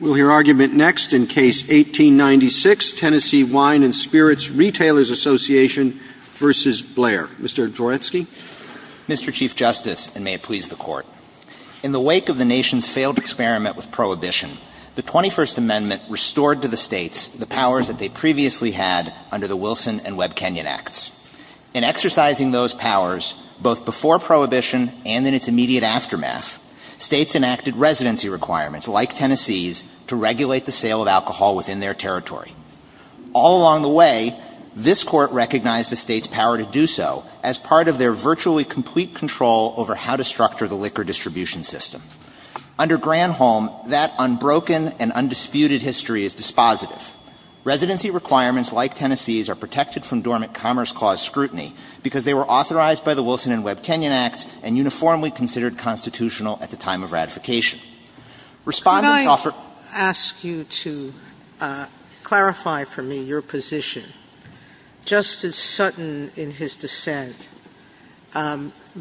Mr. Dworetsky? Mr. Chief Justice, and may it please the Court, in the wake of the nation's failed experiment with Prohibition, the 21st Amendment restored to the states the powers that they previously had under the Wilson and Webb-Kenyon Acts. In exercising those powers, both before Prohibition and in its immediate aftermath, states enacted residency requirements, like Tennessee's, to regulate the sale of alcohol within their territory. All along the way, this Court recognized the states' power to do so as part of their virtually complete control over how to structure the liquor distribution system. Under Granholm, that unbroken and undisputed history is dispositive. Residency requirements, like Tennessee's, are protected from dormant Commerce Clause scrutiny, because they were authorized by the Wilson and Webb-Kenyon Acts and uniformly considered constitutional at the time of ratification. Respondents offer to the Court the right of the State to decide whether or not to regulate the sale of alcohol within the state. Sotomayor, if I could ask you to clarify for me your position. Justice Sutton, in his dissent,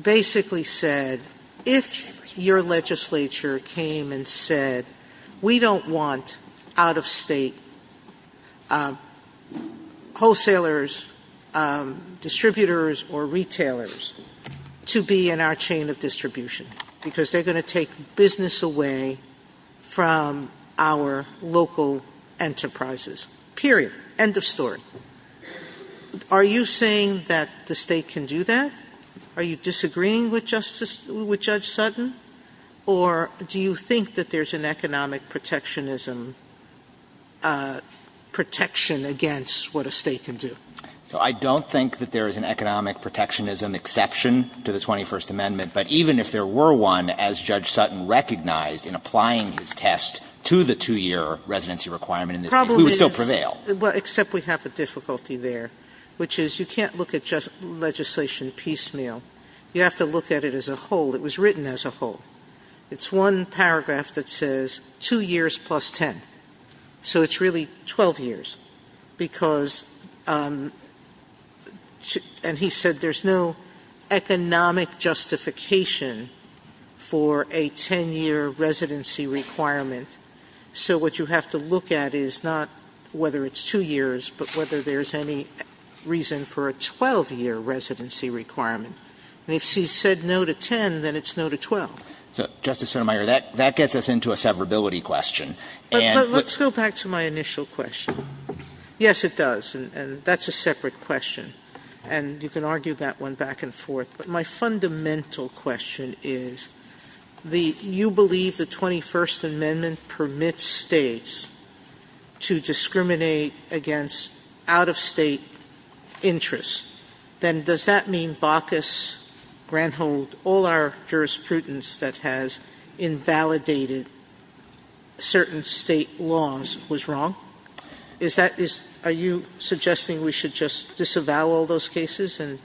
basically said, if your legislature came and said, we don't want out-of-state wholesalers, distributors, or retailers to be in our chain of distribution, because they're going to take business away from our local enterprises. Period. End of story. Are you saying that the State can do that? Are you disagreeing with Justice — with Judge Sutton? Or do you think that there's an economic protectionism — protection against what a State can do? So I don't think that there is an economic protectionism exception to the 21st Amendment. But even if there were one, as Judge Sutton recognized in applying his test to the 2-year residency requirement in this case, we would still prevail. Well, except we have a difficulty there, which is you can't look at legislation piecemeal. You have to look at it as a whole. It was written as a whole. It's one paragraph that says 2 years plus 10. So it's really 12 years, because — and he said there's no economic justification for a 10-year residency requirement. So what you have to look at is not whether it's 2 years, but whether there's any reason for a 12-year residency requirement. And if she said no to 10, then it's no to 12. So, Justice Sotomayor, that gets us into a severability question. And — But let's go back to my initial question. Yes, it does. And that's a separate question. And you can argue that one back and forth. But my fundamental question is, the — you believe the 21st Amendment permits States to discriminate against out-of-State interests. Then does that mean Baucus, Granthold, all our jurisprudence that has invalidated certain State laws was wrong? Is that — are you suggesting we should just disavow all those cases and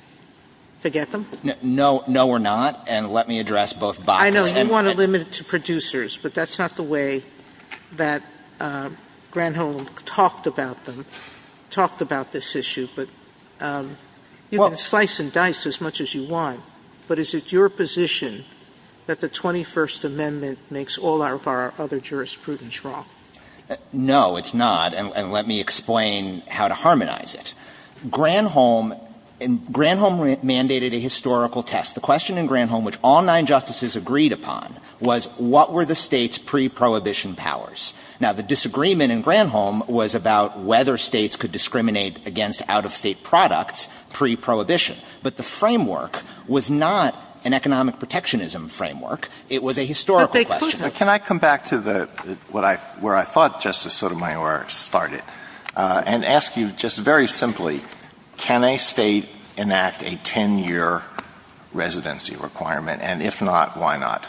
forget them? No. No, we're not. And let me address both Baucus and — I know you want to limit it to producers, but that's not the way that Granthold talked about them — talked about this issue. But you can slice and dice as much as you want. But is it your position that the 21st Amendment makes all of our other jurisprudence wrong? No, it's not. And let me explain how to harmonize it. Granthold — Granthold mandated a historical test. The question in Granthold which all nine justices agreed upon was, what were the States' pre-prohibition powers? Now, the disagreement in Granthold was about whether States could discriminate against out-of-State products pre-prohibition. But the framework was not an economic protectionism framework. It was a historical question. But they could — can I come back to the — where I thought Justice Sotomayor started, and ask you just very simply, can a State enact a 10-year residency requirement? And if not, why not?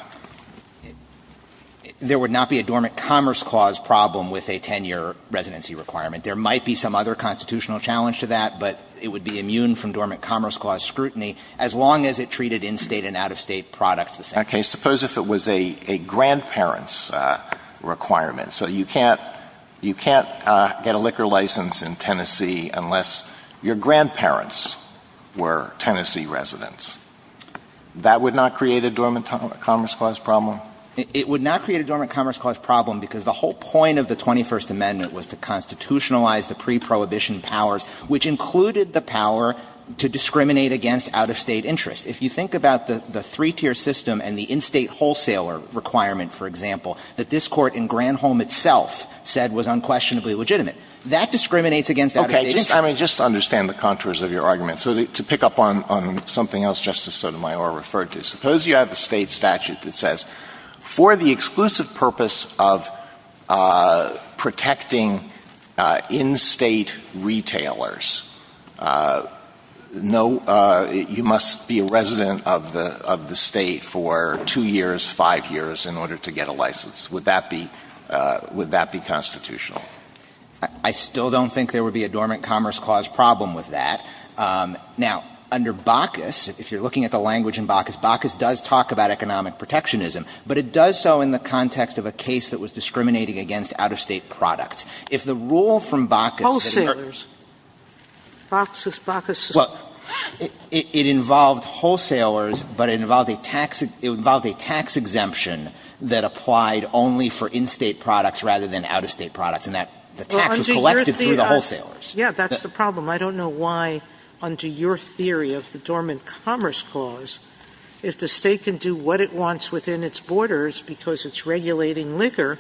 There would not be a dormant commerce clause problem with a 10-year residency requirement. There might be some other constitutional challenge to that, but it would be immune from dormant commerce clause scrutiny as long as it treated in-State and out-of-State products the same. Okay. Suppose if it was a grandparent's requirement. So you can't — you can't get a liquor license in Tennessee unless your grandparents were Tennessee residents. That would not create a dormant commerce clause problem? It would not create a dormant commerce clause problem because the whole point of the 21st Amendment was to constitutionalize the pre-prohibition powers, which included the power to discriminate against out-of-State interests. If you think about the three-tier system and the in-State wholesaler requirement, for example, that this Court in Granholm itself said was unquestionably legitimate, that discriminates against out-of-State interests. Okay. I mean, just to understand the contours of your argument, to pick up on something else Justice Sotomayor referred to, suppose you have a State statute that says for the exclusive purpose of protecting in-State retailers, no — you must be a resident of the — of the State for two years, five years in order to get a license. Would that be — would that be constitutional? I still don't think there would be a dormant commerce clause problem with that. Now, under Bacchus, if you're looking at the language in Bacchus, Bacchus does talk about economic protectionism, but it does so in the context of a case that was discriminating against out-of-State products. If the rule from Bacchus— Wholesalers. Bacchus, Bacchus. Well, it involved wholesalers, but it involved a tax — it involved a tax exemption that applied only for in-State products rather than out-of-State products, and that the tax was collected through the wholesalers. Yeah, that's the problem. I don't know why, under your theory of the dormant commerce clause, if the State can do what it wants within its borders because it's regulating liquor,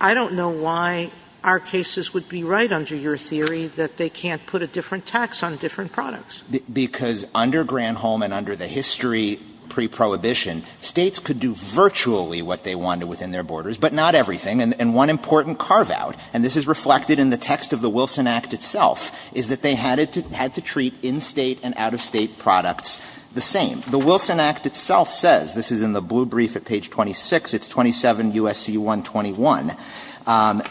I don't know why our cases would be right under your theory that they can't put a different tax on different products. Because under Granholm and under the history pre-prohibition, States could do virtually what they wanted within their borders, but not everything, and one important carve-out, and this is reflected in the text of the Wilson Act itself, is that they had to treat in-State and out-of-State products the same. The Wilson Act itself says, this is in the blue brief at page 26, it's 27 U.S.C. 121,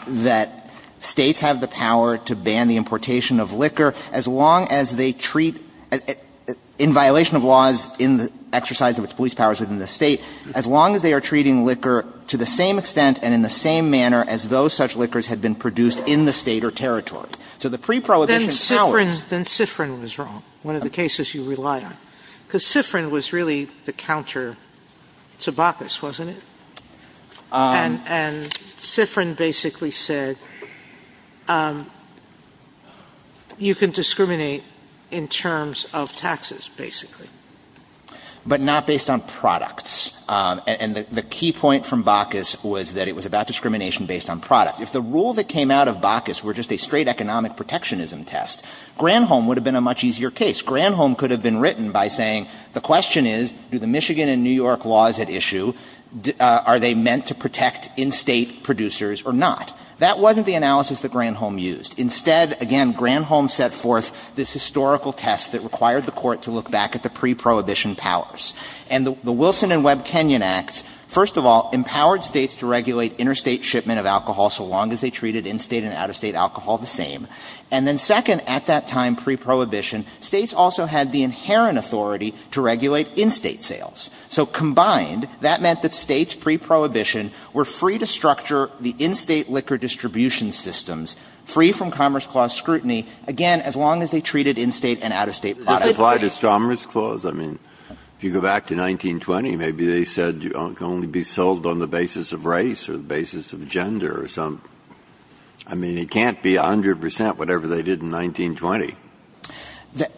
that States have the power to ban the importation of liquor as long as they treat, in violation of laws in the exercise of its police powers within the State, as long as they are treating liquor to the same extent and in the same manner as those such liquors had been produced in the State or territory. So the pre-prohibition powers Then Sifrin was wrong, one of the cases you rely on, because Sifrin was really the counter to Bacchus, wasn't it? And Sifrin basically said, you can discriminate in terms of taxes, basically. But not based on products. And the key point from Bacchus was that it was about discrimination based on products. If the rule that came out of Bacchus were just a straight economic protectionism test, Granholm would have been a much easier case. Granholm could have been written by saying, the question is, do the Michigan and New York laws at issue, are they meant to protect in-State producers or not? That wasn't the analysis that Granholm used. Instead, again, Granholm set forth this historical test that required the Court to look back at the pre-prohibition powers. And the Wilson and Webb Kenyon Acts, first of all, empowered States to regulate interstate shipment of alcohol so long as they treated in-State and out-of-State alcohol the same. And then second, at that time, pre-prohibition, States also had the inherent authority to regulate in-State sales. So combined, that meant that States pre-prohibition were free to structure the in-State liquor distribution systems, free from Commerce Clause scrutiny, again, as long as they treated in-State and out-of-State products. Breyer. Does it apply to Commerce Clause? I mean, if you go back to 1920, maybe they said it can only be sold on the basis of race or the basis of gender or something. I mean, it can't be a hundred percent whatever they did in 1920.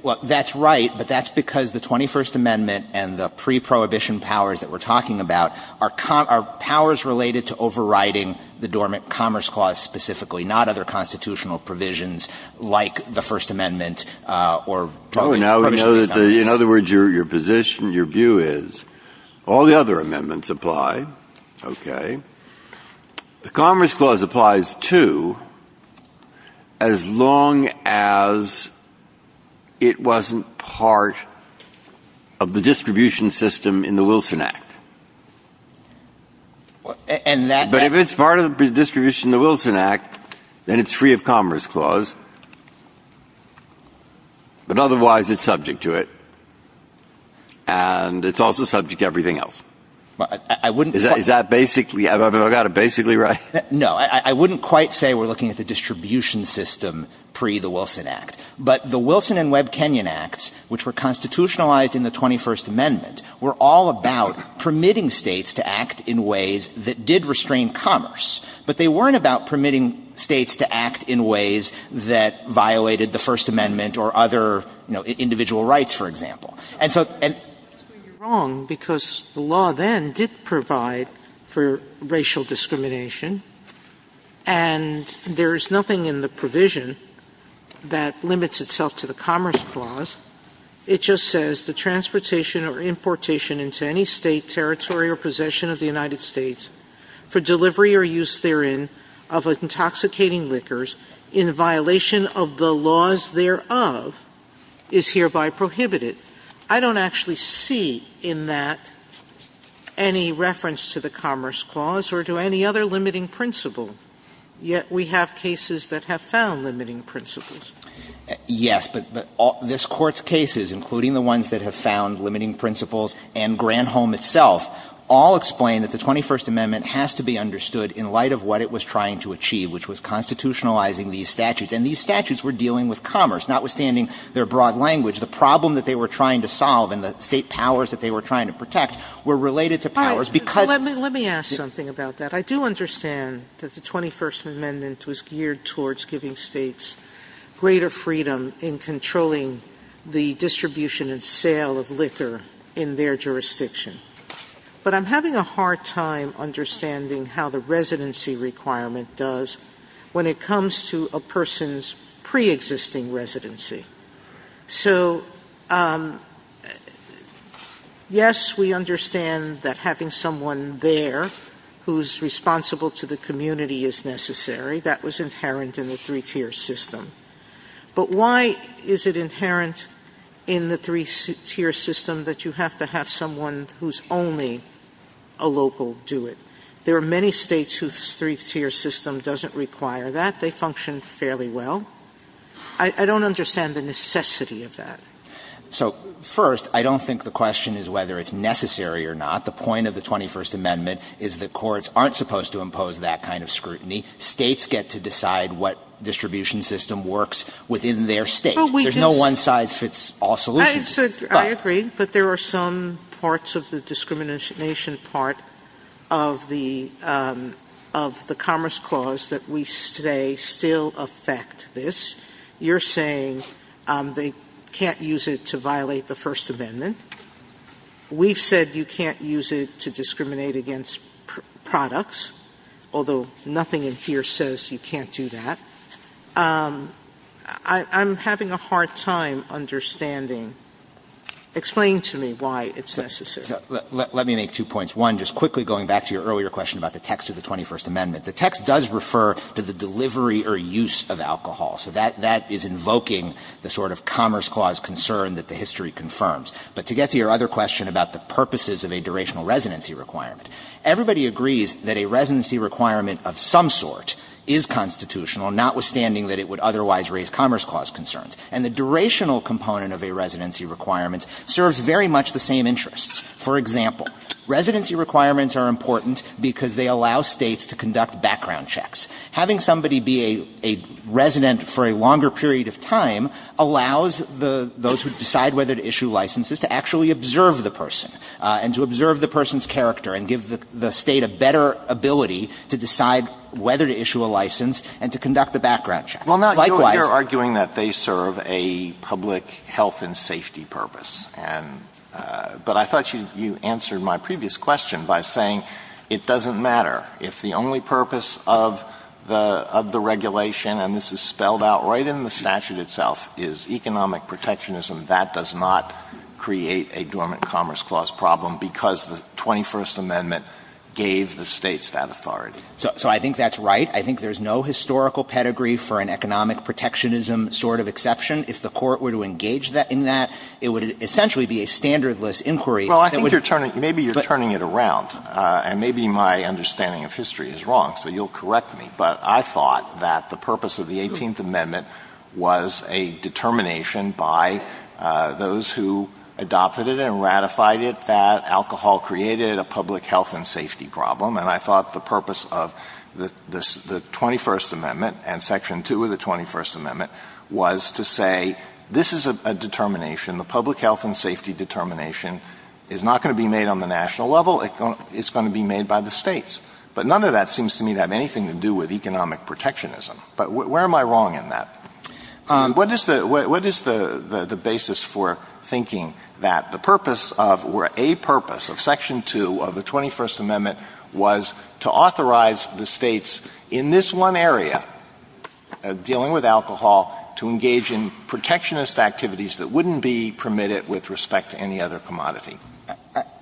Well, that's right, but that's because the 21st Amendment and the pre-prohibition powers that we're talking about are powers related to overriding the dormant Commerce Clause specifically, not other constitutional provisions like the First Amendment or prohibitionary funds. Now, we know that the – in other words, your position, your view is all the other amendments apply, okay. The Commerce Clause applies, too, as long as it wasn't part of the distribution system in the Wilson Act. And that – But if it's part of the distribution in the Wilson Act, then it's free of Commerce Clause, but otherwise it's subject to it, and it's also subject to everything else. Is that basically – have I got it basically right? No. I wouldn't quite say we're looking at the distribution system pre-the Wilson Act, but the Wilson and Webb Kenyon Acts, which were constitutionalized in the 21st Amendment, were all about permitting States to act in ways that did restrain Commerce, but they weren't about permitting States to act in ways that violated the First Amendment or other, you know, individual rights, for example. And so – And you're wrong, because the law then did provide for racial discrimination, and there is nothing in the provision that limits itself to the Commerce Clause. It just says the transportation or importation into any State, territory, or possession of the United States, for delivery or use therein of intoxicating liquors in violation of the laws thereof, is hereby prohibited. I don't actually see in that any reference to the Commerce Clause or to any other limiting principle, yet we have cases that have found limiting principles. Yes, but this Court's cases, including the ones that have found limiting principles and Granholm itself, all explain that the 21st Amendment has to be understood in light of what it was trying to achieve, which was constitutionalizing these statutes. And these statutes were dealing with Commerce, notwithstanding their broad language. The problem that they were trying to solve and the State powers that they were trying to protect were related to powers because – Sotomayor Let me ask something about that. I do understand that the 21st Amendment was geared towards giving States greater freedom in controlling the distribution and sale of liquor in their jurisdiction. But I'm having a hard time understanding how the residency requirement does when it comes to a person's preexisting residency. So, yes, we understand that having someone there who's responsible to the community is necessary. That was inherent in the three-tier system. But why is it inherent in the three-tier system that you have to have someone who's only a local do it? There are many States whose three-tier system doesn't require that. They function fairly well. I don't understand the necessity of that. So, first, I don't think the question is whether it's necessary or not. The point of the 21st Amendment is that courts aren't supposed to impose that kind of scrutiny. States get to decide what distribution system works within their State. There's no one-size-fits-all solution. Sotomayor I agree, but there are some parts of the discrimination part of the Commerce Clause that we say still affect this. You're saying they can't use it to violate the First Amendment. We've said you can't use it to discriminate against products, although nothing in here says you can't do that. I'm having a hard time understanding. Explain to me why it's necessary. Let me make two points. One, just quickly going back to your earlier question about the text of the 21st Amendment, the text does refer to the delivery or use of alcohol. So that is invoking the sort of Commerce Clause concern that the history confirms. But to get to your other question about the purposes of a durational residency requirement, everybody agrees that a residency requirement of some sort is constitutional, notwithstanding that it would otherwise raise Commerce Clause concerns. And the durational component of a residency requirement serves very much the same interests. For example, residency requirements are important because they allow States to conduct background checks. Having somebody be a resident for a longer period of time allows the those who decide whether to issue licenses to actually observe the person and to observe the person's character and give the State a better ability to decide whether to issue a license and to conduct a background check. Likewise you're arguing that they serve a public health and safety purpose. But I thought you answered my previous question by saying it doesn't matter if the only purpose of the regulation, and this is spelled out right in the statute itself, is economic protectionism. That does not create a dormant Commerce Clause problem because the 21st Amendment gave the States that authority. So I think that's right. I think there's no historical pedigree for an economic protectionism sort of exception. If the Court were to engage in that, it would essentially be a standardless inquiry. Well, I think you're turning – maybe you're turning it around, and maybe my understanding of history is wrong, so you'll correct me. But I thought that the purpose of the 18th Amendment was a determination by those who adopted it and ratified it that alcohol created a public health and safety problem. And I thought the purpose of the 21st Amendment and Section 2 of the 21st Amendment was to say this is a determination, the public health and safety determination is not going to be made on the national level. It's going to be made by the States. But none of that seems to me to have anything to do with economic protectionism. But where am I wrong in that? What is the – what is the basis for thinking that the purpose of – or a purpose of Section 2 of the 21st Amendment was to authorize the States in this one area, dealing with alcohol, to engage in protectionist activities that wouldn't be permitted with respect to any other commodity?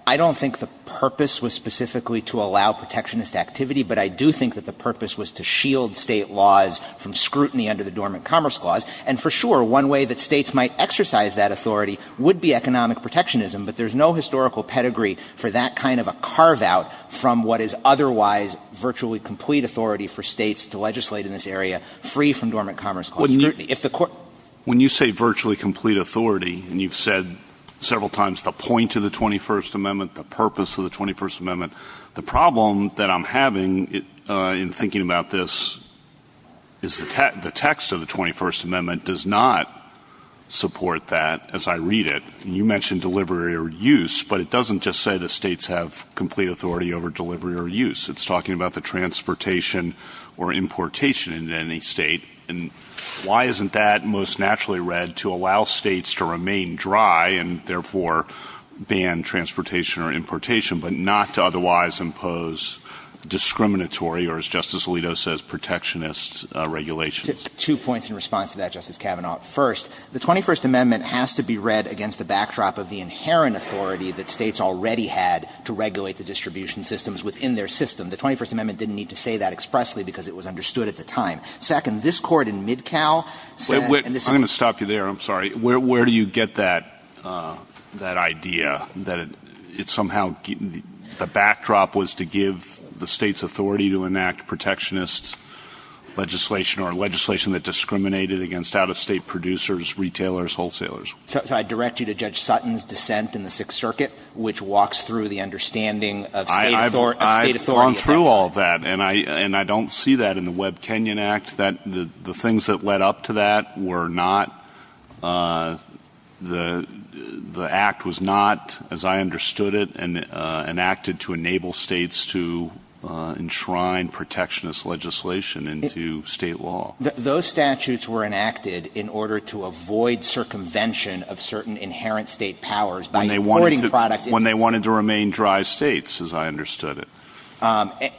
I don't think the purpose was specifically to allow protectionist activity. But I do think that the purpose was to shield State laws from scrutiny under the Dormant Commerce Clause. And for sure, one way that States might exercise that authority would be economic protectionism. But there's no historical pedigree for that kind of a carve-out from what is otherwise virtually complete authority for States to legislate in this area, free from Dormant Commerce Clause scrutiny. If the – When you say virtually complete authority, and you've said several times the point of the 21st Amendment, the purpose of the 21st Amendment, the problem that I'm having in thinking about this is the text of the 21st Amendment does not support that as I read it. You mentioned delivery or use, but it doesn't just say that States have complete authority over delivery or use. It's talking about the transportation or importation in any State. And why isn't that most naturally read to allow States to remain dry and therefore ban transportation or importation, but not to otherwise impose discriminatory or, as Justice Alito says, protectionist regulations? Two points in response to that, Justice Kavanaugh. First, the 21st Amendment has to be read against the backdrop of the inherent authority that States already had to regulate the distribution systems within their system. The 21st Amendment didn't need to say that expressly because it was understood at the time. Second, this Court in Midcow said – I'm going to stop you there. I'm sorry. Where do you get that idea that it somehow – the backdrop was to give the State's authority to enact protectionist legislation or legislation that discriminated against out-of-State producers, retailers, wholesalers? So I direct you to Judge Sutton's dissent in the Sixth Circuit, which walks through the understanding of State authority. I've gone through all that, and I don't see that in the Webb-Kenyon Act. The things that led up to that were not – the Act was not, as I understood it, enacted to enable States to enshrine protectionist legislation into State law. Those statutes were enacted in order to avoid circumvention of certain inherent State powers by importing products into – When they wanted to remain dry States, as I understood it.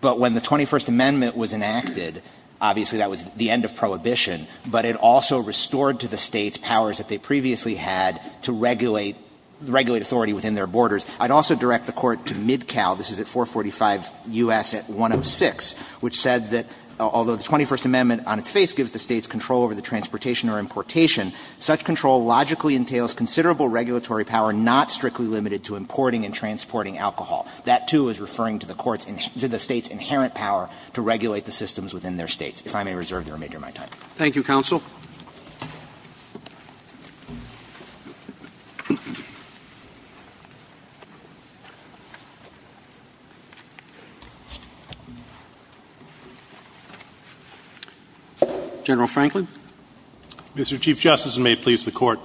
But when the 21st Amendment was enacted, obviously that was the end of prohibition. But it also restored to the States powers that they previously had to regulate – regulate authority within their borders. I'd also direct the Court to Midcow – this is at 445 U.S. at 106, which said that although the 21st Amendment on its face gives the States control over the transportation or importation, such control logically entails considerable regulatory power not strictly limited to importing and transporting alcohol. That, too, is referring to the Court's – to the States' inherent power to regulate the systems within their States. If I may reserve the remainder of my time. Roberts. Thank you, counsel. General Franklin. Mr. Chief Justice, and may it please the Court.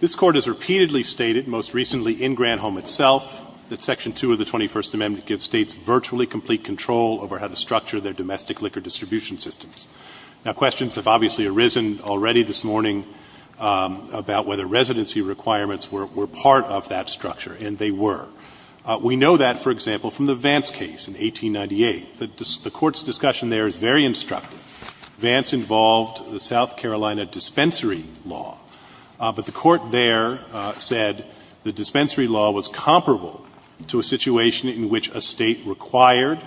This Court has repeatedly stated, most recently in Granholm itself, that Section 2 of the 21st Amendment gives States virtually complete control over how to structure their domestic liquor distribution systems. Now, questions have obviously arisen already this morning about whether residency requirements were part of that structure, and they were. We know that, for example, from the Vance case in 1898. The Court's discussion there is very instructive. Vance involved the South Carolina dispensary law. But the Court there said the dispensary law was comparable to a situation in which a State required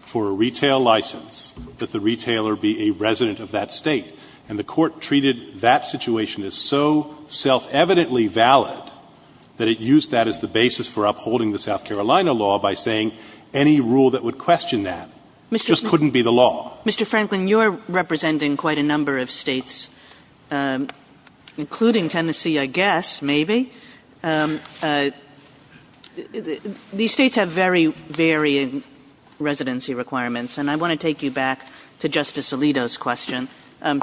for a retail license that the retailer be a resident of that State. And the Court treated that situation as so self-evidently valid that it used that as the basis for upholding the South Carolina law by saying any rule that would question that just couldn't be the law. Mr. Franklin, you're representing quite a number of States, including Tennessee, I guess, maybe. These States have very varying residency requirements. And I want to take you back to Justice Alito's question.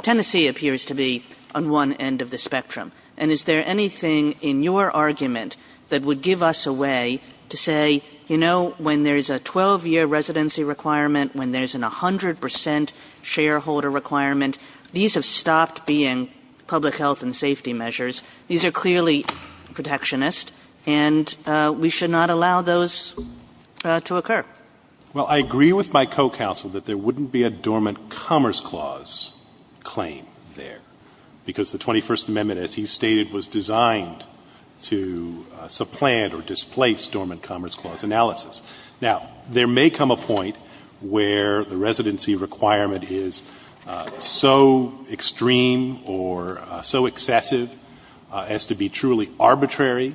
Tennessee appears to be on one end of the spectrum. And is there anything in your argument that would give us a way to say, you know, when there's a 12-year residency requirement, when there's a 100 percent shareholder requirement, these have stopped being public health and safety measures. These are clearly protectionist. And we should not allow those to occur. Well, I agree with my co-counsel that there wouldn't be a dormant commerce clause claim there, because the 21st Amendment, as he stated, was designed to supplant or displace dormant commerce clause analysis. Now, there may come a point where the residency requirement is so extreme or so excessive as to be truly arbitrary,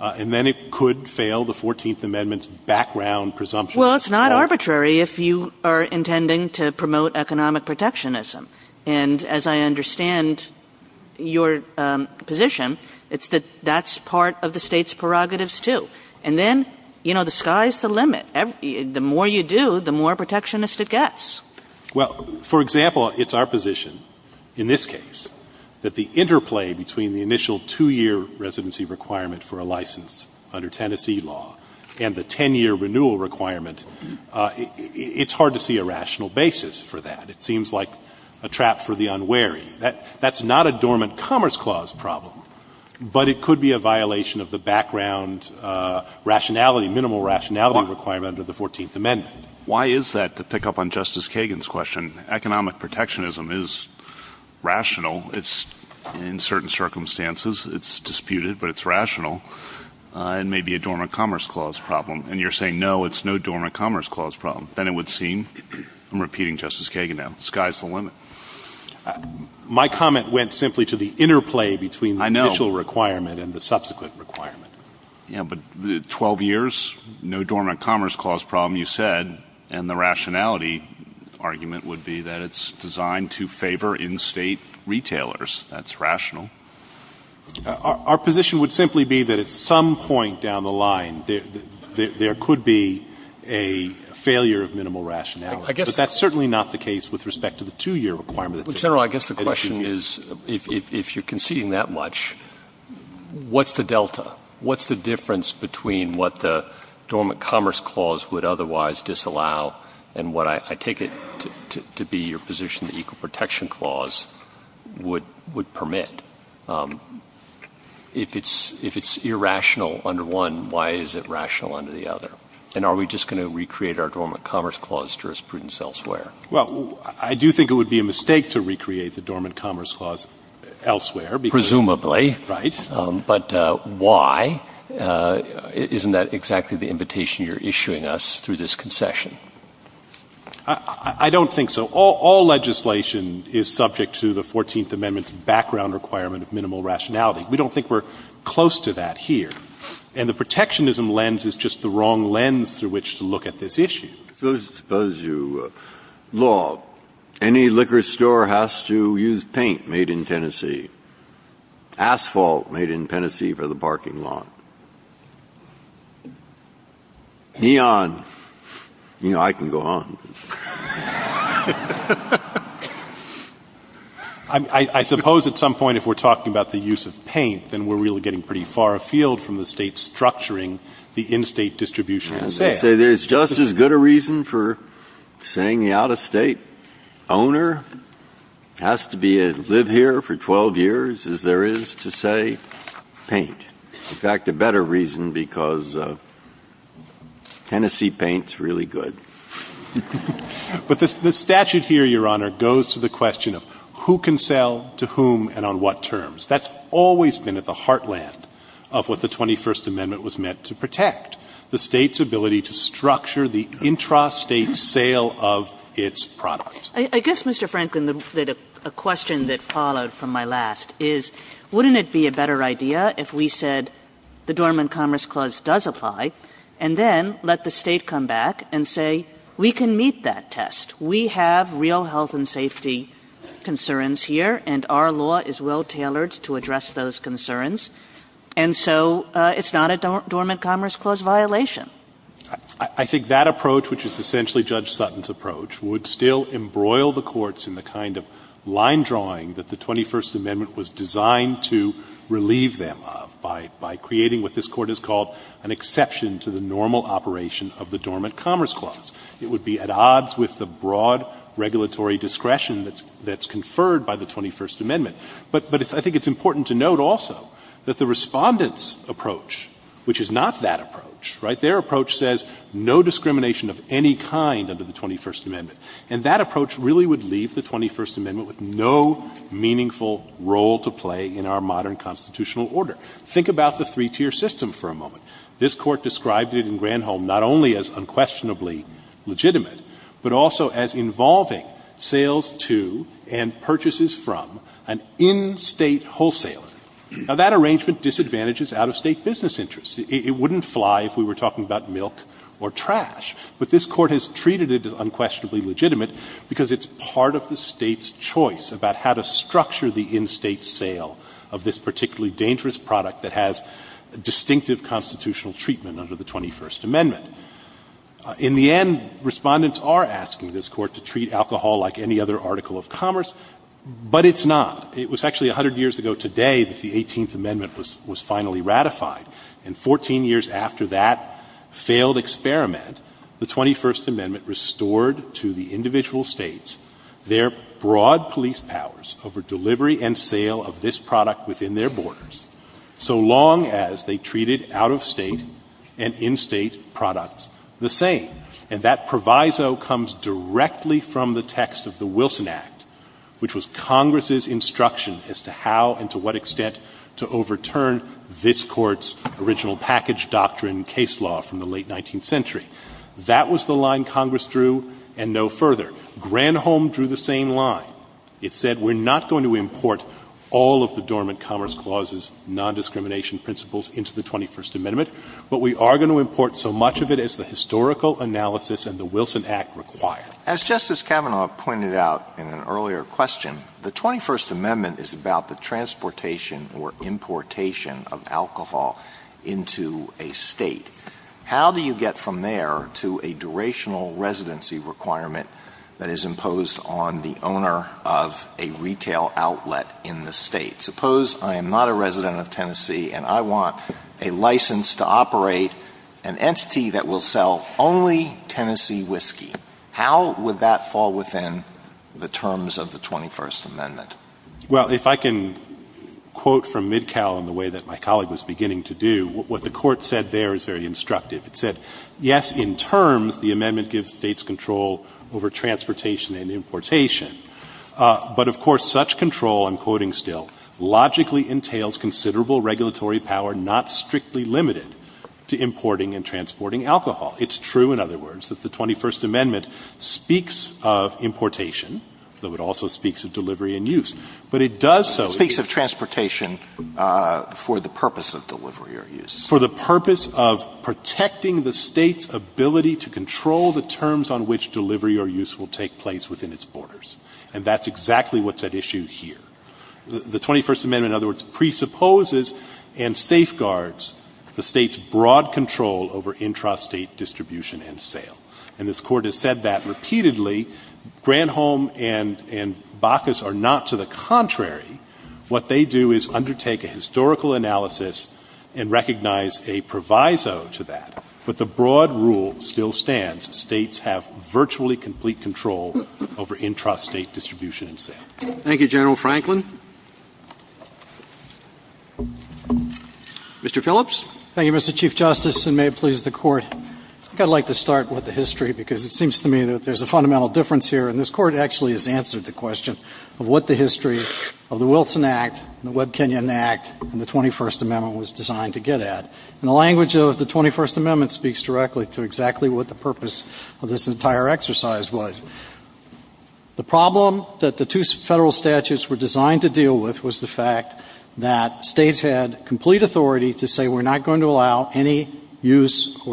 and then it could fail the 14th Amendment's background presumption. Well, it's not arbitrary if you are intending to promote economic protectionism. And as I understand your position, it's that that's part of the State's prerogatives too. And then, you know, the sky's the limit. The more you do, the more protectionist it gets. Well, for example, it's our position in this case that the interplay between the initial 2-year residency requirement for a license under Tennessee law and the 10-year renewal requirement, it's hard to see a rational basis for that. It seems like a trap for the unwary. That's not a dormant commerce clause problem, but it could be a violation of the background rationality, minimal rationality requirement of the 14th Amendment. Why is that, to pick up on Justice Kagan's question? Economic protectionism is rational. It's in certain circumstances, it's disputed, but it's rational. It may be a dormant commerce clause problem. And you're saying, no, it's no dormant commerce clause problem. Then it would seem — I'm repeating Justice Kagan now — the sky's the limit. My comment went simply to the interplay between the initial requirement and the subsequent requirement. Yeah, but 12 years, no dormant commerce clause problem, you said. And the rationality argument would be that it's designed to favor in-State retailers. That's rational. Our position would simply be that at some point down the line, there could be a failure of minimal rationality. But that's certainly not the case with respect to the 2-year requirement. General, I guess the question is, if you're conceding that much, what's the delta — what's the difference between what the dormant commerce clause would otherwise disallow and what I take it to be your position the Equal Protection Clause would permit? If it's irrational under one, why is it rational under the other? And are we just going to recreate our dormant commerce clause jurisprudence elsewhere? Well, I do think it would be a mistake to recreate the dormant commerce clause elsewhere because — Presumably. Right. But why? Isn't that exactly the invitation you're issuing us through this concession? I don't think so. All legislation is subject to the Fourteenth Amendment's background requirement of minimal rationality. We don't think we're close to that here. And the protectionism lens is just the wrong lens through which to look at this issue. So suppose you — law. Any liquor store has to use paint made in Tennessee. Asphalt made in Tennessee for the parking lot. Neon. You know, I can go on. I suppose at some point if we're talking about the use of paint, then we're really getting pretty far afield from the State structuring the in-State distribution of sales. I would say there's just as good a reason for saying the out-of-State owner has to be a — live here for 12 years as there is to say paint. In fact, a better reason because Tennessee paint's really good. But the statute here, Your Honor, goes to the question of who can sell to whom and on what terms. That's always been at the heartland of what the 21st Amendment was meant to protect, the State's ability to structure the intra-State sale of its product. Kagan. I guess, Mr. Franklin, a question that followed from my last is, wouldn't it be a better idea if we said the Dormant Commerce Clause does apply and then let the State come back and say we can meet that test, we have real health and safety concerns here and our law is well tailored to address those concerns. And so it's not a Dormant Commerce Clause violation. I think that approach, which is essentially Judge Sutton's approach, would still embroil the courts in the kind of line drawing that the 21st Amendment was designed to relieve them of by creating what this Court has called an exception to the normal operation of the Dormant Commerce Clause. It would be at odds with the broad regulatory discretion that's conferred by the 21st Amendment. But I think it's important to note also that the Respondent's approach, which is not that approach, right, their approach says no discrimination of any kind under the 21st Amendment, and that approach really would leave the 21st Amendment with no meaningful role to play in our modern constitutional order. Think about the three-tier system for a moment. This Court described it in Granholm not only as unquestionably legitimate, but also as involving sales to and purchases from an in-State wholesaler. Now, that arrangement disadvantages out-of-State business interests. It wouldn't fly if we were talking about milk or trash. But this Court has treated it as unquestionably legitimate because it's part of the State's choice about how to structure the in-State sale of this particularly dangerous product that has distinctive constitutional treatment under the 21st Amendment. In the end, Respondents are asking this Court to treat alcohol like any other article of commerce, but it's not. It was actually 100 years ago today that the 18th Amendment was finally ratified, and 14 years after that failed experiment, the 21st Amendment restored to the individual States their broad police powers over delivery and sale of this product within their borders, so long as they treated out-of-State and in-State products the same. And that proviso comes directly from the text of the Wilson Act, which was Congress's instruction as to how and to what extent to overturn this Court's decision. And that was the line Congress drew, and no further. Granholm drew the same line. It said, we're not going to import all of the dormant Commerce Clause's nondiscrimination principles into the 21st Amendment, but we are going to import so much of it as the historical analysis and the Wilson Act require. As Justice Kavanaugh pointed out in an earlier question, the 21st Amendment is about the transportation or importation of alcohol into a State. How do you get from there to a durational residency requirement that is imposed on the owner of a retail outlet in the State? Suppose I am not a resident of Tennessee and I want a license to operate an entity that will sell only Tennessee whiskey. Well, if I can quote from Midcow in the way that my colleague was beginning to do, what the Court said there is very instructive. It said, yes, in terms, the amendment gives States control over transportation and importation, but of course, such control, I'm quoting still, logically entails considerable regulatory power not strictly limited to importing and transporting alcohol. It's true, in other words, that the 21st Amendment speaks of importation, though it also speaks of delivery and use. But it does so. Alitoson It speaks of transportation for the purpose of delivery or use. Breyer For the purpose of protecting the State's ability to control the terms on which delivery or use will take place within its borders, and that's exactly what's at issue here. The 21st Amendment, in other words, presupposes and safeguards the State's broad control over intrastate distribution and sale. And this Court has said that repeatedly. Granholm and Bacchus are not to the contrary. What they do is undertake a historical analysis and recognize a proviso to that. But the broad rule still stands. States have virtually complete control over intrastate distribution and sale. Roberts Thank you, General Franklin. Mr. Phillips. Phillips I'd like to start with the history, because it seems to me that there's a fundamental difference here, and this Court actually has answered the question of what the history of the Wilson Act, the Webb-Kenyon Act, and the 21st Amendment was designed to get at. And the language of the 21st Amendment speaks directly to exactly what the purpose of this entire exercise was. The problem that the two Federal statutes were designed to deal with was the fact that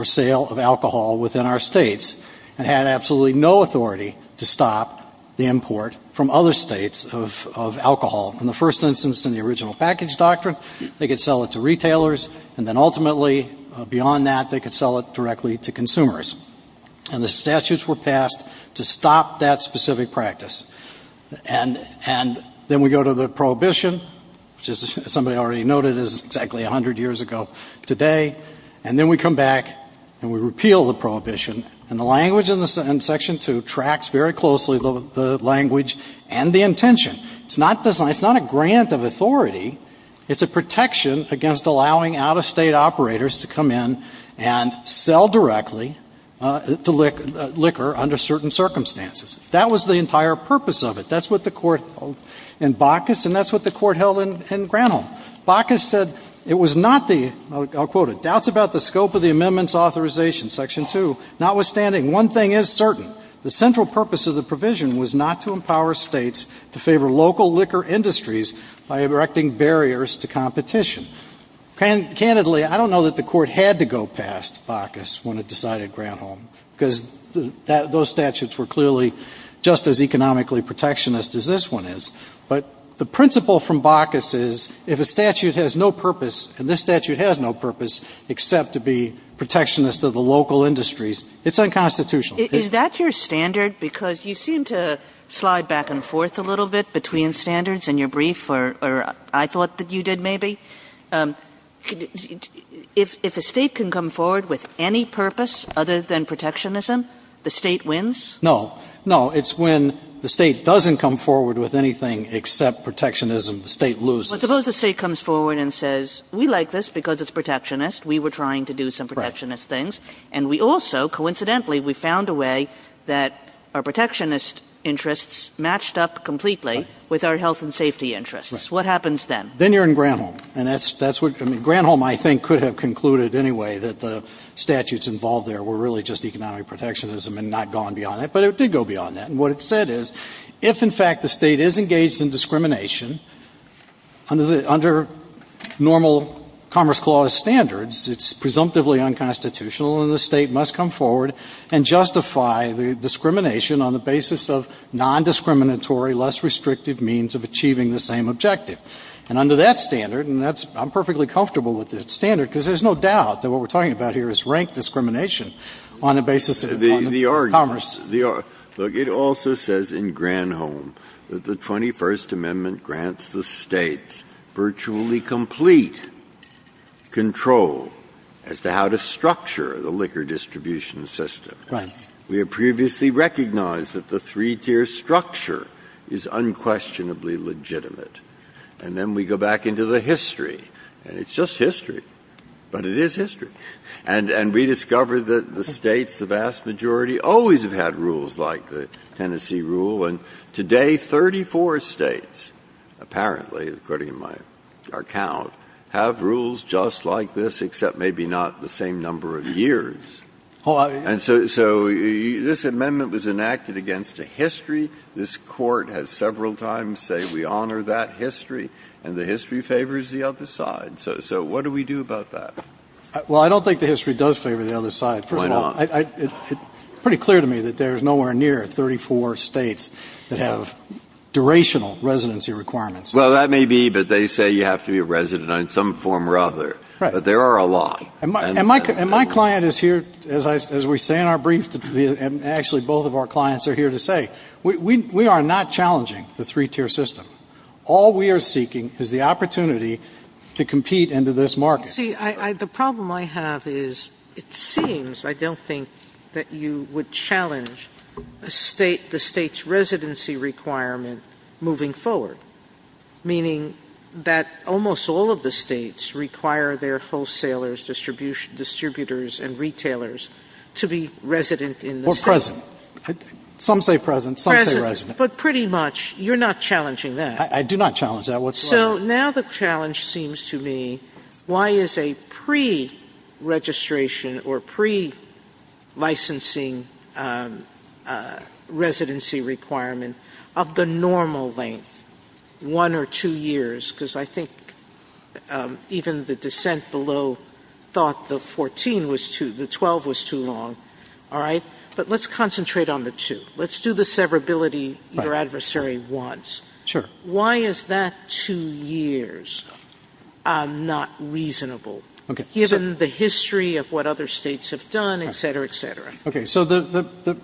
sale of alcohol within our states, and had absolutely no authority to stop the import from other states of alcohol. In the first instance, in the original package doctrine, they could sell it to retailers, and then ultimately, beyond that, they could sell it directly to consumers. And the statutes were passed to stop that specific practice. And then we go to the prohibition, which as somebody already noted, is exactly 100 years ago today. And then we come back, and we repeal the prohibition. And the language in Section 2 tracks very closely the language and the intention. It's not a grant of authority. It's a protection against allowing out-of-state operators to come in and sell directly to liquor under certain circumstances. That was the entire purpose of it. That's what the Court held in Bacchus, and that's what the Court held in Granholm. Bacchus said it was not the, I'll quote it, doubts about the scope of the amendment's authorization, Section 2. Notwithstanding, one thing is certain. The central purpose of the provision was not to empower states to favor local liquor industries by erecting barriers to competition. Candidly, I don't know that the Court had to go past Bacchus when it decided Granholm, because those statutes were clearly just as economically protectionist as this one is. But the principle from Bacchus is, if a statute has no purpose, and this statute has no purpose, except to be protectionist of the local industries, it's unconstitutional. Is that your standard? Because you seem to slide back and forth a little bit between standards in your brief, or I thought that you did maybe. If a state can come forward with any purpose other than protectionism, the state wins? No. No, it's when the state doesn't come forward with anything except protectionism, the state loses. But suppose the state comes forward and says, we like this because it's protectionist. We were trying to do some protectionist things. And we also, coincidentally, we found a way that our protectionist interests matched up completely with our health and safety interests. What happens then? Then you're in Granholm. And that's what, I mean, Granholm, I think, could have concluded anyway, that the statutes involved there were really just economic protectionism and not gone beyond that. But it did go beyond that. And what it said is, if, in fact, the state is engaged in discrimination, under normal Commerce Clause standards, it's presumptively unconstitutional. And the state must come forward and justify the discrimination on the basis of non-discriminatory, less restrictive means of achieving the same objective. And under that standard, and I'm perfectly comfortable with that standard, because there's no doubt that what we're talking about here is rank discrimination on the basis of economic commerce. Breyer. It also says in Granholm that the 21st Amendment grants the States virtually complete control as to how to structure the liquor distribution system. Right. We have previously recognized that the three-tier structure is unquestionably legitimate. And then we go back into the history, and it's just history, but it is history. And we discover that the States, the vast majority, always have had rules like the Tennessee rule. And today, 34 States, apparently, according to my account, have rules just like this, except maybe not the same number of years. And so this amendment was enacted against a history. This Court has several times said we honor that history, and the history favors the other side. So what do we do about that? Well, I don't think the history does favor the other side. First of all, it's pretty clear to me that there's nowhere near 34 States that have durational residency requirements. Well, that may be, but they say you have to be a resident in some form or other. Right. But there are a lot. And my client is here, as we say in our brief, and actually both of our clients are here to say, we are not challenging the three-tier system. All we are seeking is the opportunity to compete into this market. See, the problem I have is it seems, I don't think, that you would challenge the State's residency requirement moving forward, meaning that almost all of the States require their wholesalers, distributors, and retailers to be resident in the State. Or present. Some say present. Some say resident. But pretty much, you're not challenging that. I do not challenge that. So now the challenge seems to me, why is a pre-registration or pre-licensing residency requirement of the normal length, one or two years, because I think even the dissent below thought the 14 was too, the 12 was too long, all right? But let's concentrate on the two. Let's do the severability your adversary wants. Sure. Why is that two years not reasonable, given the history of what other States have done, et cetera, et cetera? Okay. So the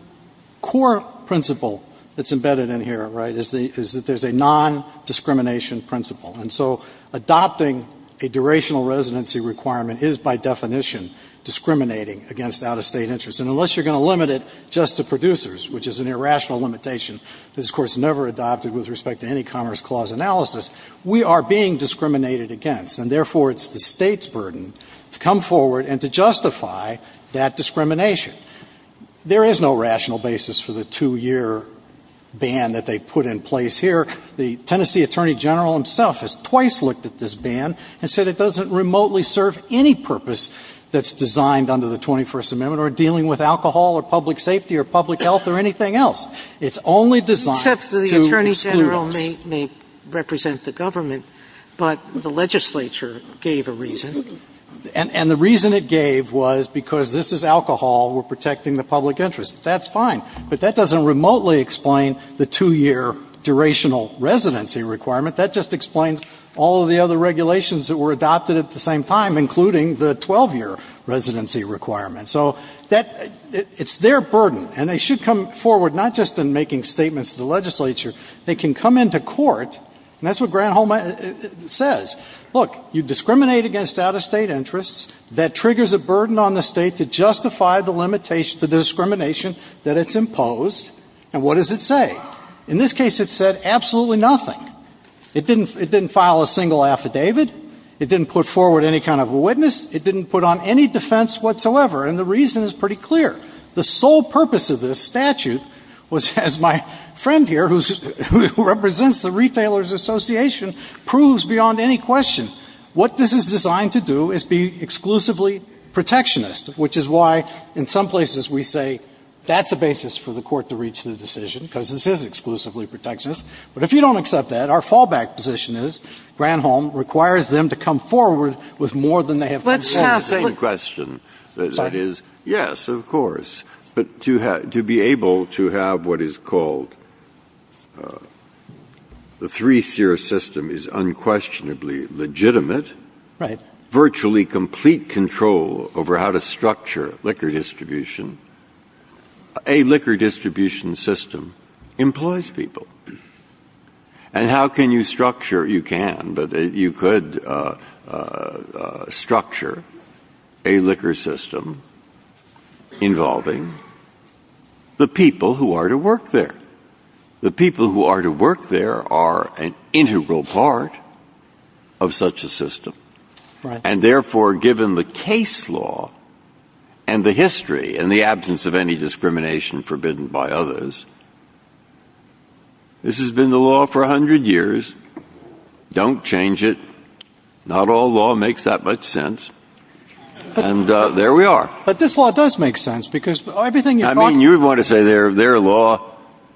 core principle that's embedded in here, right, is that there's a non-discrimination principle. And so adopting a durational residency requirement is, by definition, discriminating against out-of-State interests. And unless you're going to limit it just to producers, which is an irrational limitation that is, of course, never adopted with respect to any Commerce Clause analysis, we are being discriminated against. And therefore, it's the State's burden to come forward and to justify that discrimination. There is no rational basis for the two-year ban that they put in place here. The Tennessee Attorney General himself has twice looked at this ban and said it doesn't remotely serve any purpose that's designed under the 21st Amendment or dealing with alcohol or public safety or public health or anything else. It's only designed to exclude us. Except the Attorney General may represent the government, but the legislature gave a reason. And the reason it gave was because this is alcohol, we're protecting the public interest. That's fine. But that doesn't remotely explain the two-year durational residency requirement. That just explains all of the other regulations that were adopted at the same time, including the 12-year residency requirement. So it's their burden, and they should come forward not just in making statements to the legislature, they can come into court, and that's what Granholm says, look, you discriminate against out-of-state interests, that triggers a burden on the State to justify the discrimination that it's imposed, and what does it say? In this case, it said absolutely nothing. It didn't file a single affidavit. It didn't put forward any kind of witness. It didn't put on any defense whatsoever. And the reason is pretty clear. The sole purpose of this statute was, as my friend here, who represents the Retailers Association, proves beyond any question, what this is designed to do is be exclusively protectionist, which is why in some places we say that's a basis for the Court to reach the decision, because this is exclusively protectionist. But if you don't accept that, our fallback position is Granholm requires them to come forward with more than they have proposed. Breyer. The same question that is, yes, of course, but to be able to have what is called the three-seer system is unquestionably legitimate. Right. Virtually complete control over how to structure liquor distribution. A liquor distribution system employs people. And how can you structure? You can, but you could structure a liquor system involving the people who are to work there. The people who are to work there are an integral part of such a system. And therefore, given the case law and the history and the absence of any discrimination forbidden by others, this has been the law for a hundred years. Don't change it. Not all law makes that much sense. And there we are. But this law does make sense, because everything you're talking about. I mean, you would want to say their law,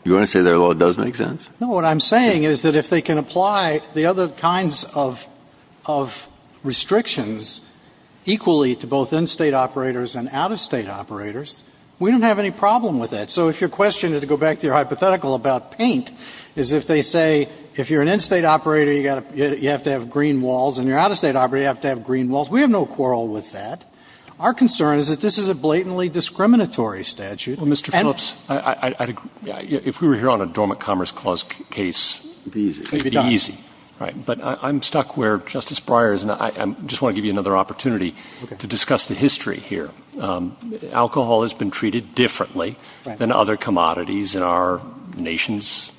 you want to say their law does make sense? No, what I'm saying is that if they can apply the other kinds of restrictions equally to both in-state operators and out-of-state operators, we don't have any problem with that. So if your question, to go back to your hypothetical about paint, is if they say if you're an in-state operator, you have to have green walls, and you're out-of-state operator, you have to have green walls. We have no quarrel with that. Our concern is that this is a blatantly discriminatory statute. Well, Mr. Phillips, I'd agree. If we were here on a dormant commerce clause case, it would be easy. It would be done. It would be easy. Right. But I'm stuck where Justice Breyer is. And I just want to give you another opportunity to discuss the history here. Alcohol has been treated differently than other commodities in our nation's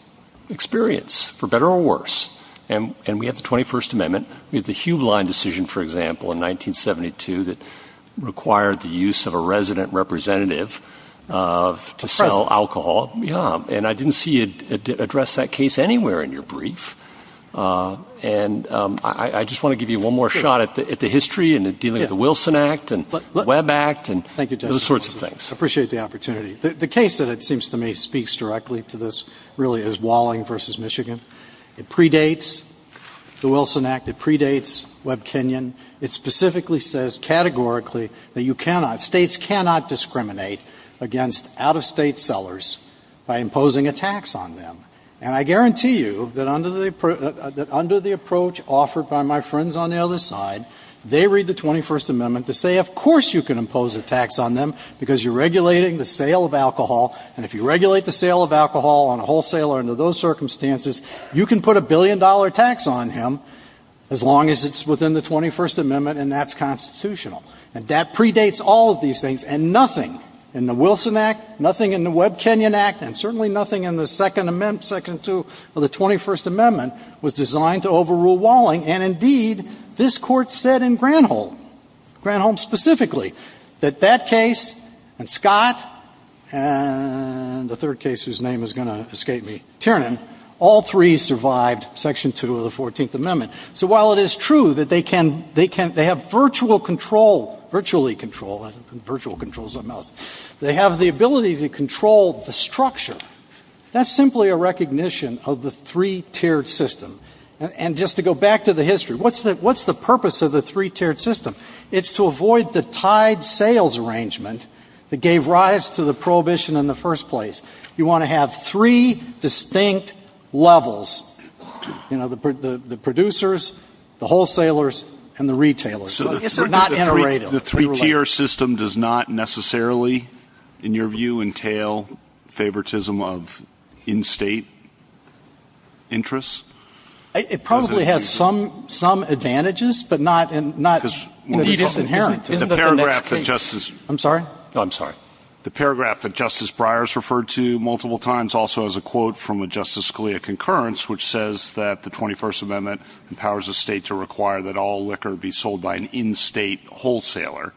experience, for better or worse. And we have the 21st Amendment. We have the Hublin decision, for example, in 1972 that required the use of a resident representative to sell alcohol. Yeah. And I didn't see you address that case anywhere in your brief. And I just want to give you one more shot at the history and dealing with the Wilson Act and Webb Act and those sorts of things. Thank you, Justice Breyer. I appreciate the opportunity. The case that it seems to me speaks directly to this really is Walling v. Michigan. It predates the Wilson Act. It predates Webb-Kenyon. It specifically says categorically that you cannot, States cannot discriminate against out-of-state sellers by imposing a tax on them. And I guarantee you that under the approach offered by my friends on the other side, they read the 21st Amendment to say, of course you can impose a tax on them because you're regulating the sale of alcohol. And if you regulate the sale of alcohol on a wholesaler under those circumstances, you can put a billion-dollar tax on him as long as it's within the 21st Amendment and that's constitutional. And that predates all of these things and nothing in the Wilson Act, nothing in the Section 2 of the 21st Amendment was designed to overrule Walling. And indeed, this Court said in Granholm, Granholm specifically, that that case and Scott and the third case whose name is going to escape me, Tiernan, all three survived Section 2 of the 14th Amendment. So while it is true that they can, they can, they have virtual control, virtually control, virtual control is something else, they have the ability to control the recognition of the three-tiered system. And just to go back to the history, what's the purpose of the three-tiered system? It's to avoid the tied sales arrangement that gave rise to the prohibition in the first place. You want to have three distinct levels, you know, the producers, the wholesalers, and the retailers. It's not iterative. The three-tiered system does not necessarily, in your view, entail favoritism of in-State interests? It probably has some, some advantages, but not, not, it is inherent. Isn't that the next case? I'm sorry? I'm sorry. The paragraph that Justice Breyer has referred to multiple times also has a quote from a Justice Scalia concurrence which says that the 21st Amendment empowers a state to require that all liquor be sold by an in-State wholesaler.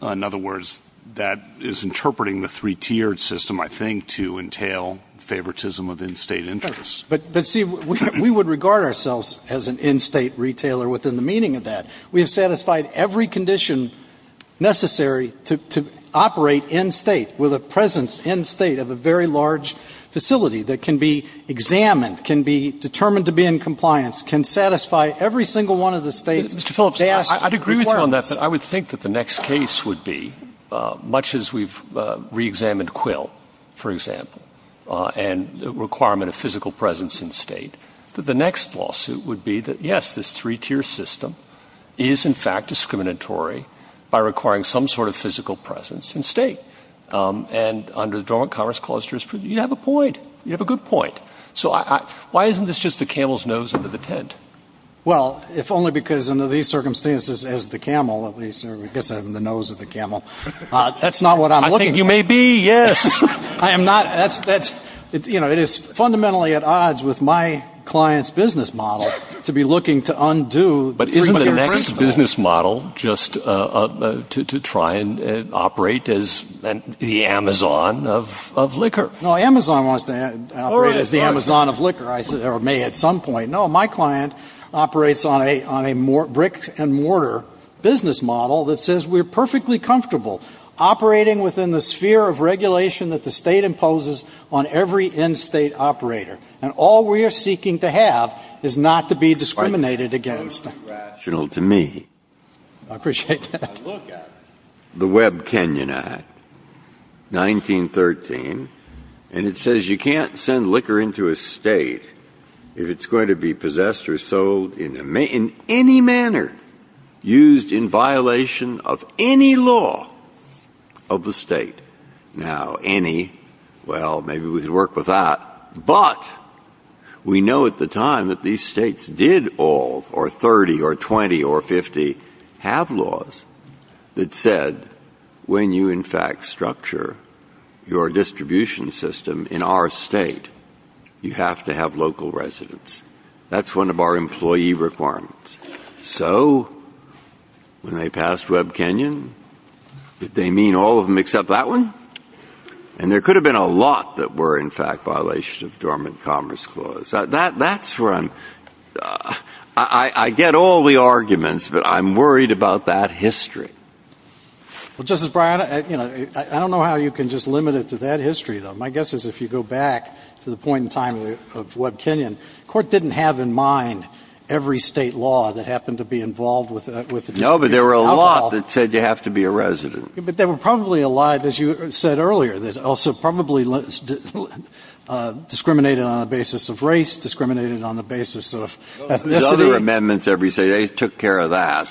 In other words, that is interpreting the three-tiered system, I think, to entail favoritism of in-State interests. But, but see, we would regard ourselves as an in-State retailer within the meaning of that. We have satisfied every condition necessary to, to operate in-State with a presence in-State of a very large facility that can be examined, can be determined to be in compliance, can satisfy every single one of the State's best requirements. Mr. Phillips, I, I'd agree with you on that, but I would think that the next case would be, much as we've re-examined Quill, for example, and the requirement of physical presence in-State, that the next lawsuit would be that, yes, this three-tier system is, in fact, discriminatory by requiring some sort of physical presence in-State. And under the Dormant Commerce Clause jurisprudence, you have a point. You have a good point. So I, I, why isn't this just the camel's nose under the tent? Well, if only because under these circumstances, as the camel, at least, or I guess I'm the nose of the camel, that's not what I'm looking for. I think you may be, yes. I am not, that's, that's, you know, it is fundamentally at odds with my client's business model to be looking to undo the three-tier principle. But isn't the next business model just to, to try and operate as the Amazon of, of liquor? No, Amazon wants to operate as the Amazon of liquor. I said, or may at some point. No, my client operates on a, on a brick-and-mortar business model that says we're perfectly comfortable operating within the sphere of regulation that the State imposes on every in-State operator. And all we are seeking to have is not to be discriminated against. That's irrational to me. I appreciate that. The Webb-Kenyon Act, 1913, and it says you can't send liquor into a State if it's going to be possessed or sold in a, in any manner used in violation of any law of the State. Now, any, well, maybe we can work with that. But we know at the time that these States did all, or 30 or 20 or 50, have laws that said when you, in fact, structure your distribution system in our State, you have to have local residents. That's one of our employee requirements. So, when they passed Webb-Kenyon, did they mean all of them except that one? And there could have been a lot that were, in fact, violations of Dormant Commerce Clause. That's where I'm, I get all the arguments, but I'm worried about that history. Well, Justice Breyer, you know, I don't know how you can just limit it to that history, though. My guess is if you go back to the point in time of Webb-Kenyon, the Court didn't have in mind every State law that happened to be involved with the distribution of alcohol. No, but there were a lot that said you have to be a resident. But there were probably a lot, as you said earlier, that also probably discriminated on the basis of race, discriminated on the basis of ethnicity. There's other amendments every State. They took care of that.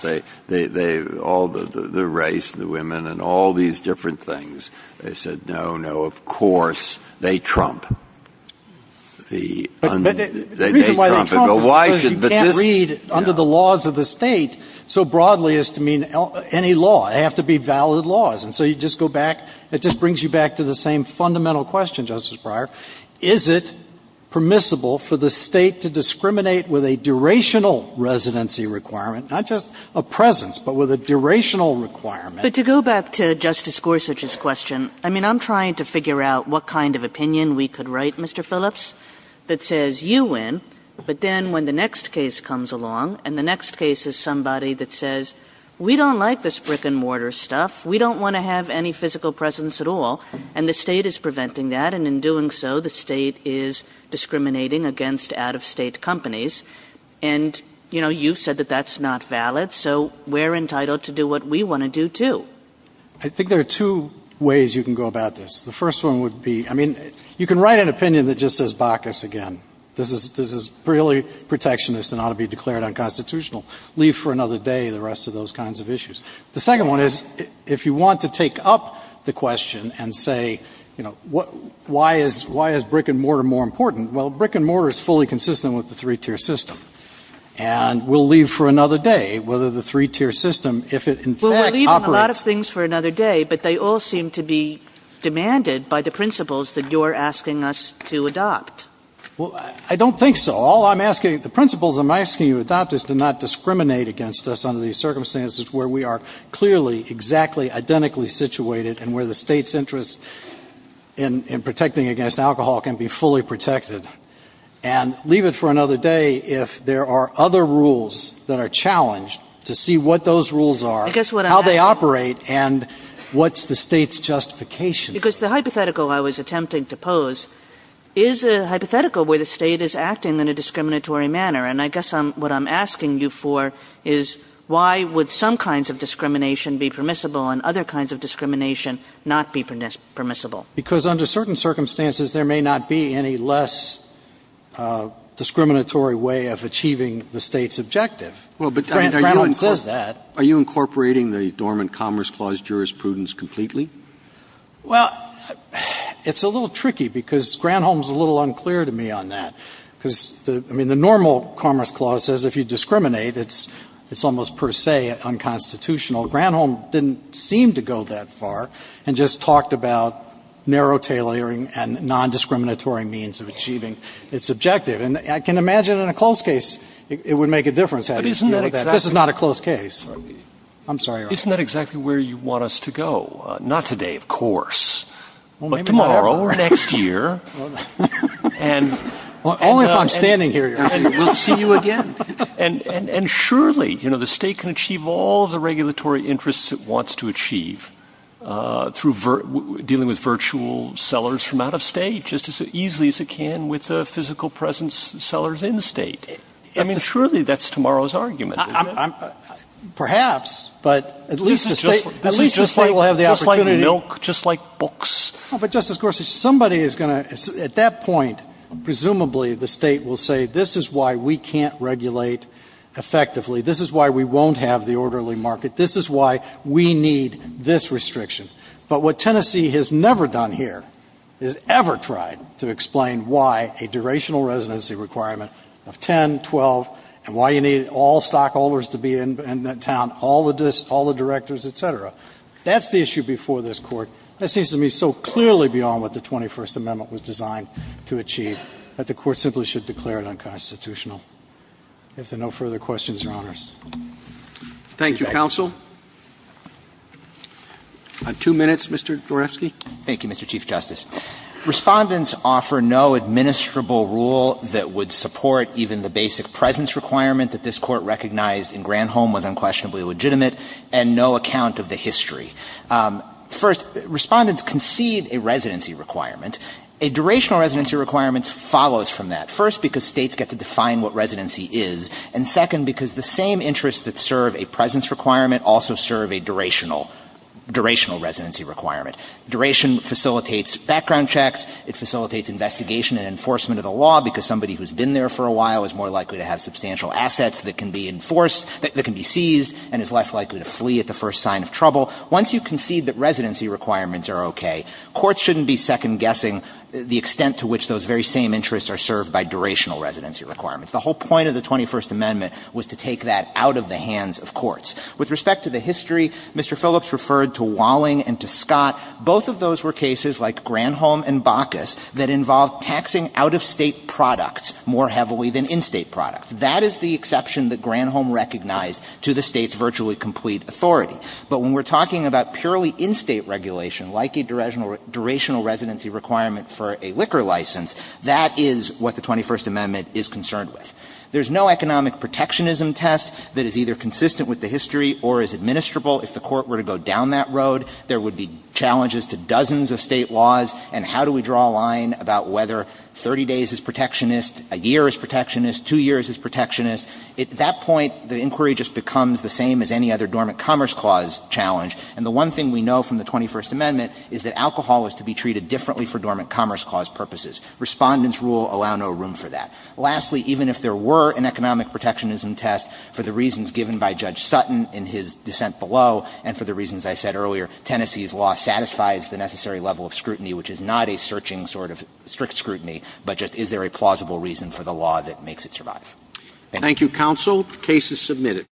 They, all the race, the women, and all these different things. They said, no, no, of course, they trump. The reason why they trump is because you can't read under the laws of the State so broadly as to mean any law. They have to be valid laws. And so you just go back, it just brings you back to the same fundamental question, Justice Breyer. Is it permissible for the State to discriminate with a durational residency requirement, not just a presence, but with a durational requirement? But to go back to Justice Gorsuch's question, I mean, I'm trying to figure out what kind of opinion we could write, Mr. Phillips, that says you win, but then when the next case comes along, and the next case is somebody that says we don't like this brick-and-mortar stuff, we don't want to have any physical presence at all, and the State is discriminating against out-of-state companies. And, you know, you've said that that's not valid, so we're entitled to do what we want to do, too. I think there are two ways you can go about this. The first one would be, I mean, you can write an opinion that just says Bacchus again. This is really protectionist and ought to be declared unconstitutional. Leave for another day the rest of those kinds of issues. The second one is, if you want to take up the question and say, you know, why is brick-and-mortar more important, well, brick-and-mortar is fully consistent with the three-tier system. And we'll leave for another day whether the three-tier system, if it in fact operates. Kagan. Well, we're leaving a lot of things for another day, but they all seem to be demanded by the principles that you're asking us to adopt. Phillips. Well, I don't think so. All I'm asking, the principles I'm asking you to adopt is to not discriminate against us under these circumstances where we are clearly exactly identically situated and where the State's interest in protecting against alcohol can be fully protected. And leave it for another day if there are other rules that are challenged to see what those rules are, how they operate, and what's the State's justification for it. Kagan. Because the hypothetical I was attempting to pose is a hypothetical where the State is acting in a discriminatory manner. And I guess what I'm asking you for is why would some kinds of discrimination be permissible and other kinds of discrimination not be permissible? Phillips. Because under certain circumstances, there may not be any less discriminatory way of achieving the State's objective. Granholm says that. Are you incorporating the Dormant Commerce Clause jurisprudence completely? Well, it's a little tricky because Granholm's a little unclear to me on that. Because, I mean, the normal Commerce Clause says if you discriminate, it's almost per se unconstitutional. Granholm didn't seem to go that far and just talked about narrow tailoring and nondiscriminatory means of achieving its objective. And I can imagine in a close case, it would make a difference. I mean, isn't that exactly. This is not a close case. I'm sorry, Your Honor. Isn't that exactly where you want us to go? Not today, of course, but tomorrow or next year. Only if I'm standing here, Your Honor. And we'll see you again. And surely, you know, the State can achieve all the regulatory interests it wants to achieve through dealing with virtual sellers from out of State just as easily as it can with physical presence sellers in State. I mean, surely that's tomorrow's argument, isn't it? Perhaps. But at least the State will have the opportunity. Just like milk, just like books. But, Justice Gorsuch, somebody is going to, at that point, presumably the State will say, this is why we can't regulate effectively. This is why we won't have the orderly market. This is why we need this restriction. But what Tennessee has never done here is ever tried to explain why a durational residency requirement of 10, 12, and why you need all stockholders to be in town, all the directors, et cetera. That's the issue before this Court. That seems to me so clearly beyond what the 21st Amendment was designed to achieve that the Court simply should declare it unconstitutional. If there are no further questions or honors. Roberts. Thank you, counsel. On two minutes, Mr. Dorefsky. Thank you, Mr. Chief Justice. Respondents offer no administrable rule that would support even the basic presence requirement that this Court recognized in Granholm was unquestionably legitimate and no account of the history. First, Respondents concede a residency requirement. A durational residency requirement follows from that. First, because states get to define what residency is. And second, because the same interests that serve a presence requirement also serve a durational, durational residency requirement. Duration facilitates background checks. It facilitates investigation and enforcement of the law because somebody who has been there for a while is more likely to have substantial assets that can be enforced that can be seized and is less likely to flee at the first sign of trouble. Once you concede that residency requirements are okay, courts shouldn't be second guessing the extent to which those very same interests are served by durational residency requirements. The whole point of the 21st Amendment was to take that out of the hands of courts. With respect to the history, Mr. Phillips referred to Walling and to Scott. Both of those were cases like Granholm and Bacchus that involved taxing out-of-state products more heavily than in-state products. That is the exception that Granholm recognized to the state's virtually complete authority. But when we're talking about purely in-state regulation, like a durational residency requirement for a liquor license, that is what the 21st Amendment is concerned with. There's no economic protectionism test that is either consistent with the history or is administrable. If the Court were to go down that road, there would be challenges to dozens of State laws, and how do we draw a line about whether 30 days is protectionist, a year is protectionist, 2 years is protectionist. At that point, the inquiry just becomes the same as any other dormant commerce clause challenge. And the one thing we know from the 21st Amendment is that alcohol is to be treated differently for dormant commerce clause purposes. Respondents' rule allow no room for that. Lastly, even if there were an economic protectionism test, for the reasons given by Judge Sutton in his dissent below, and for the reasons I said earlier, Tennessee's law satisfies the necessary level of scrutiny, which is not a searching sort of strict scrutiny, but just is there a plausible reason for the law that makes it survive. Thank you. Roberts.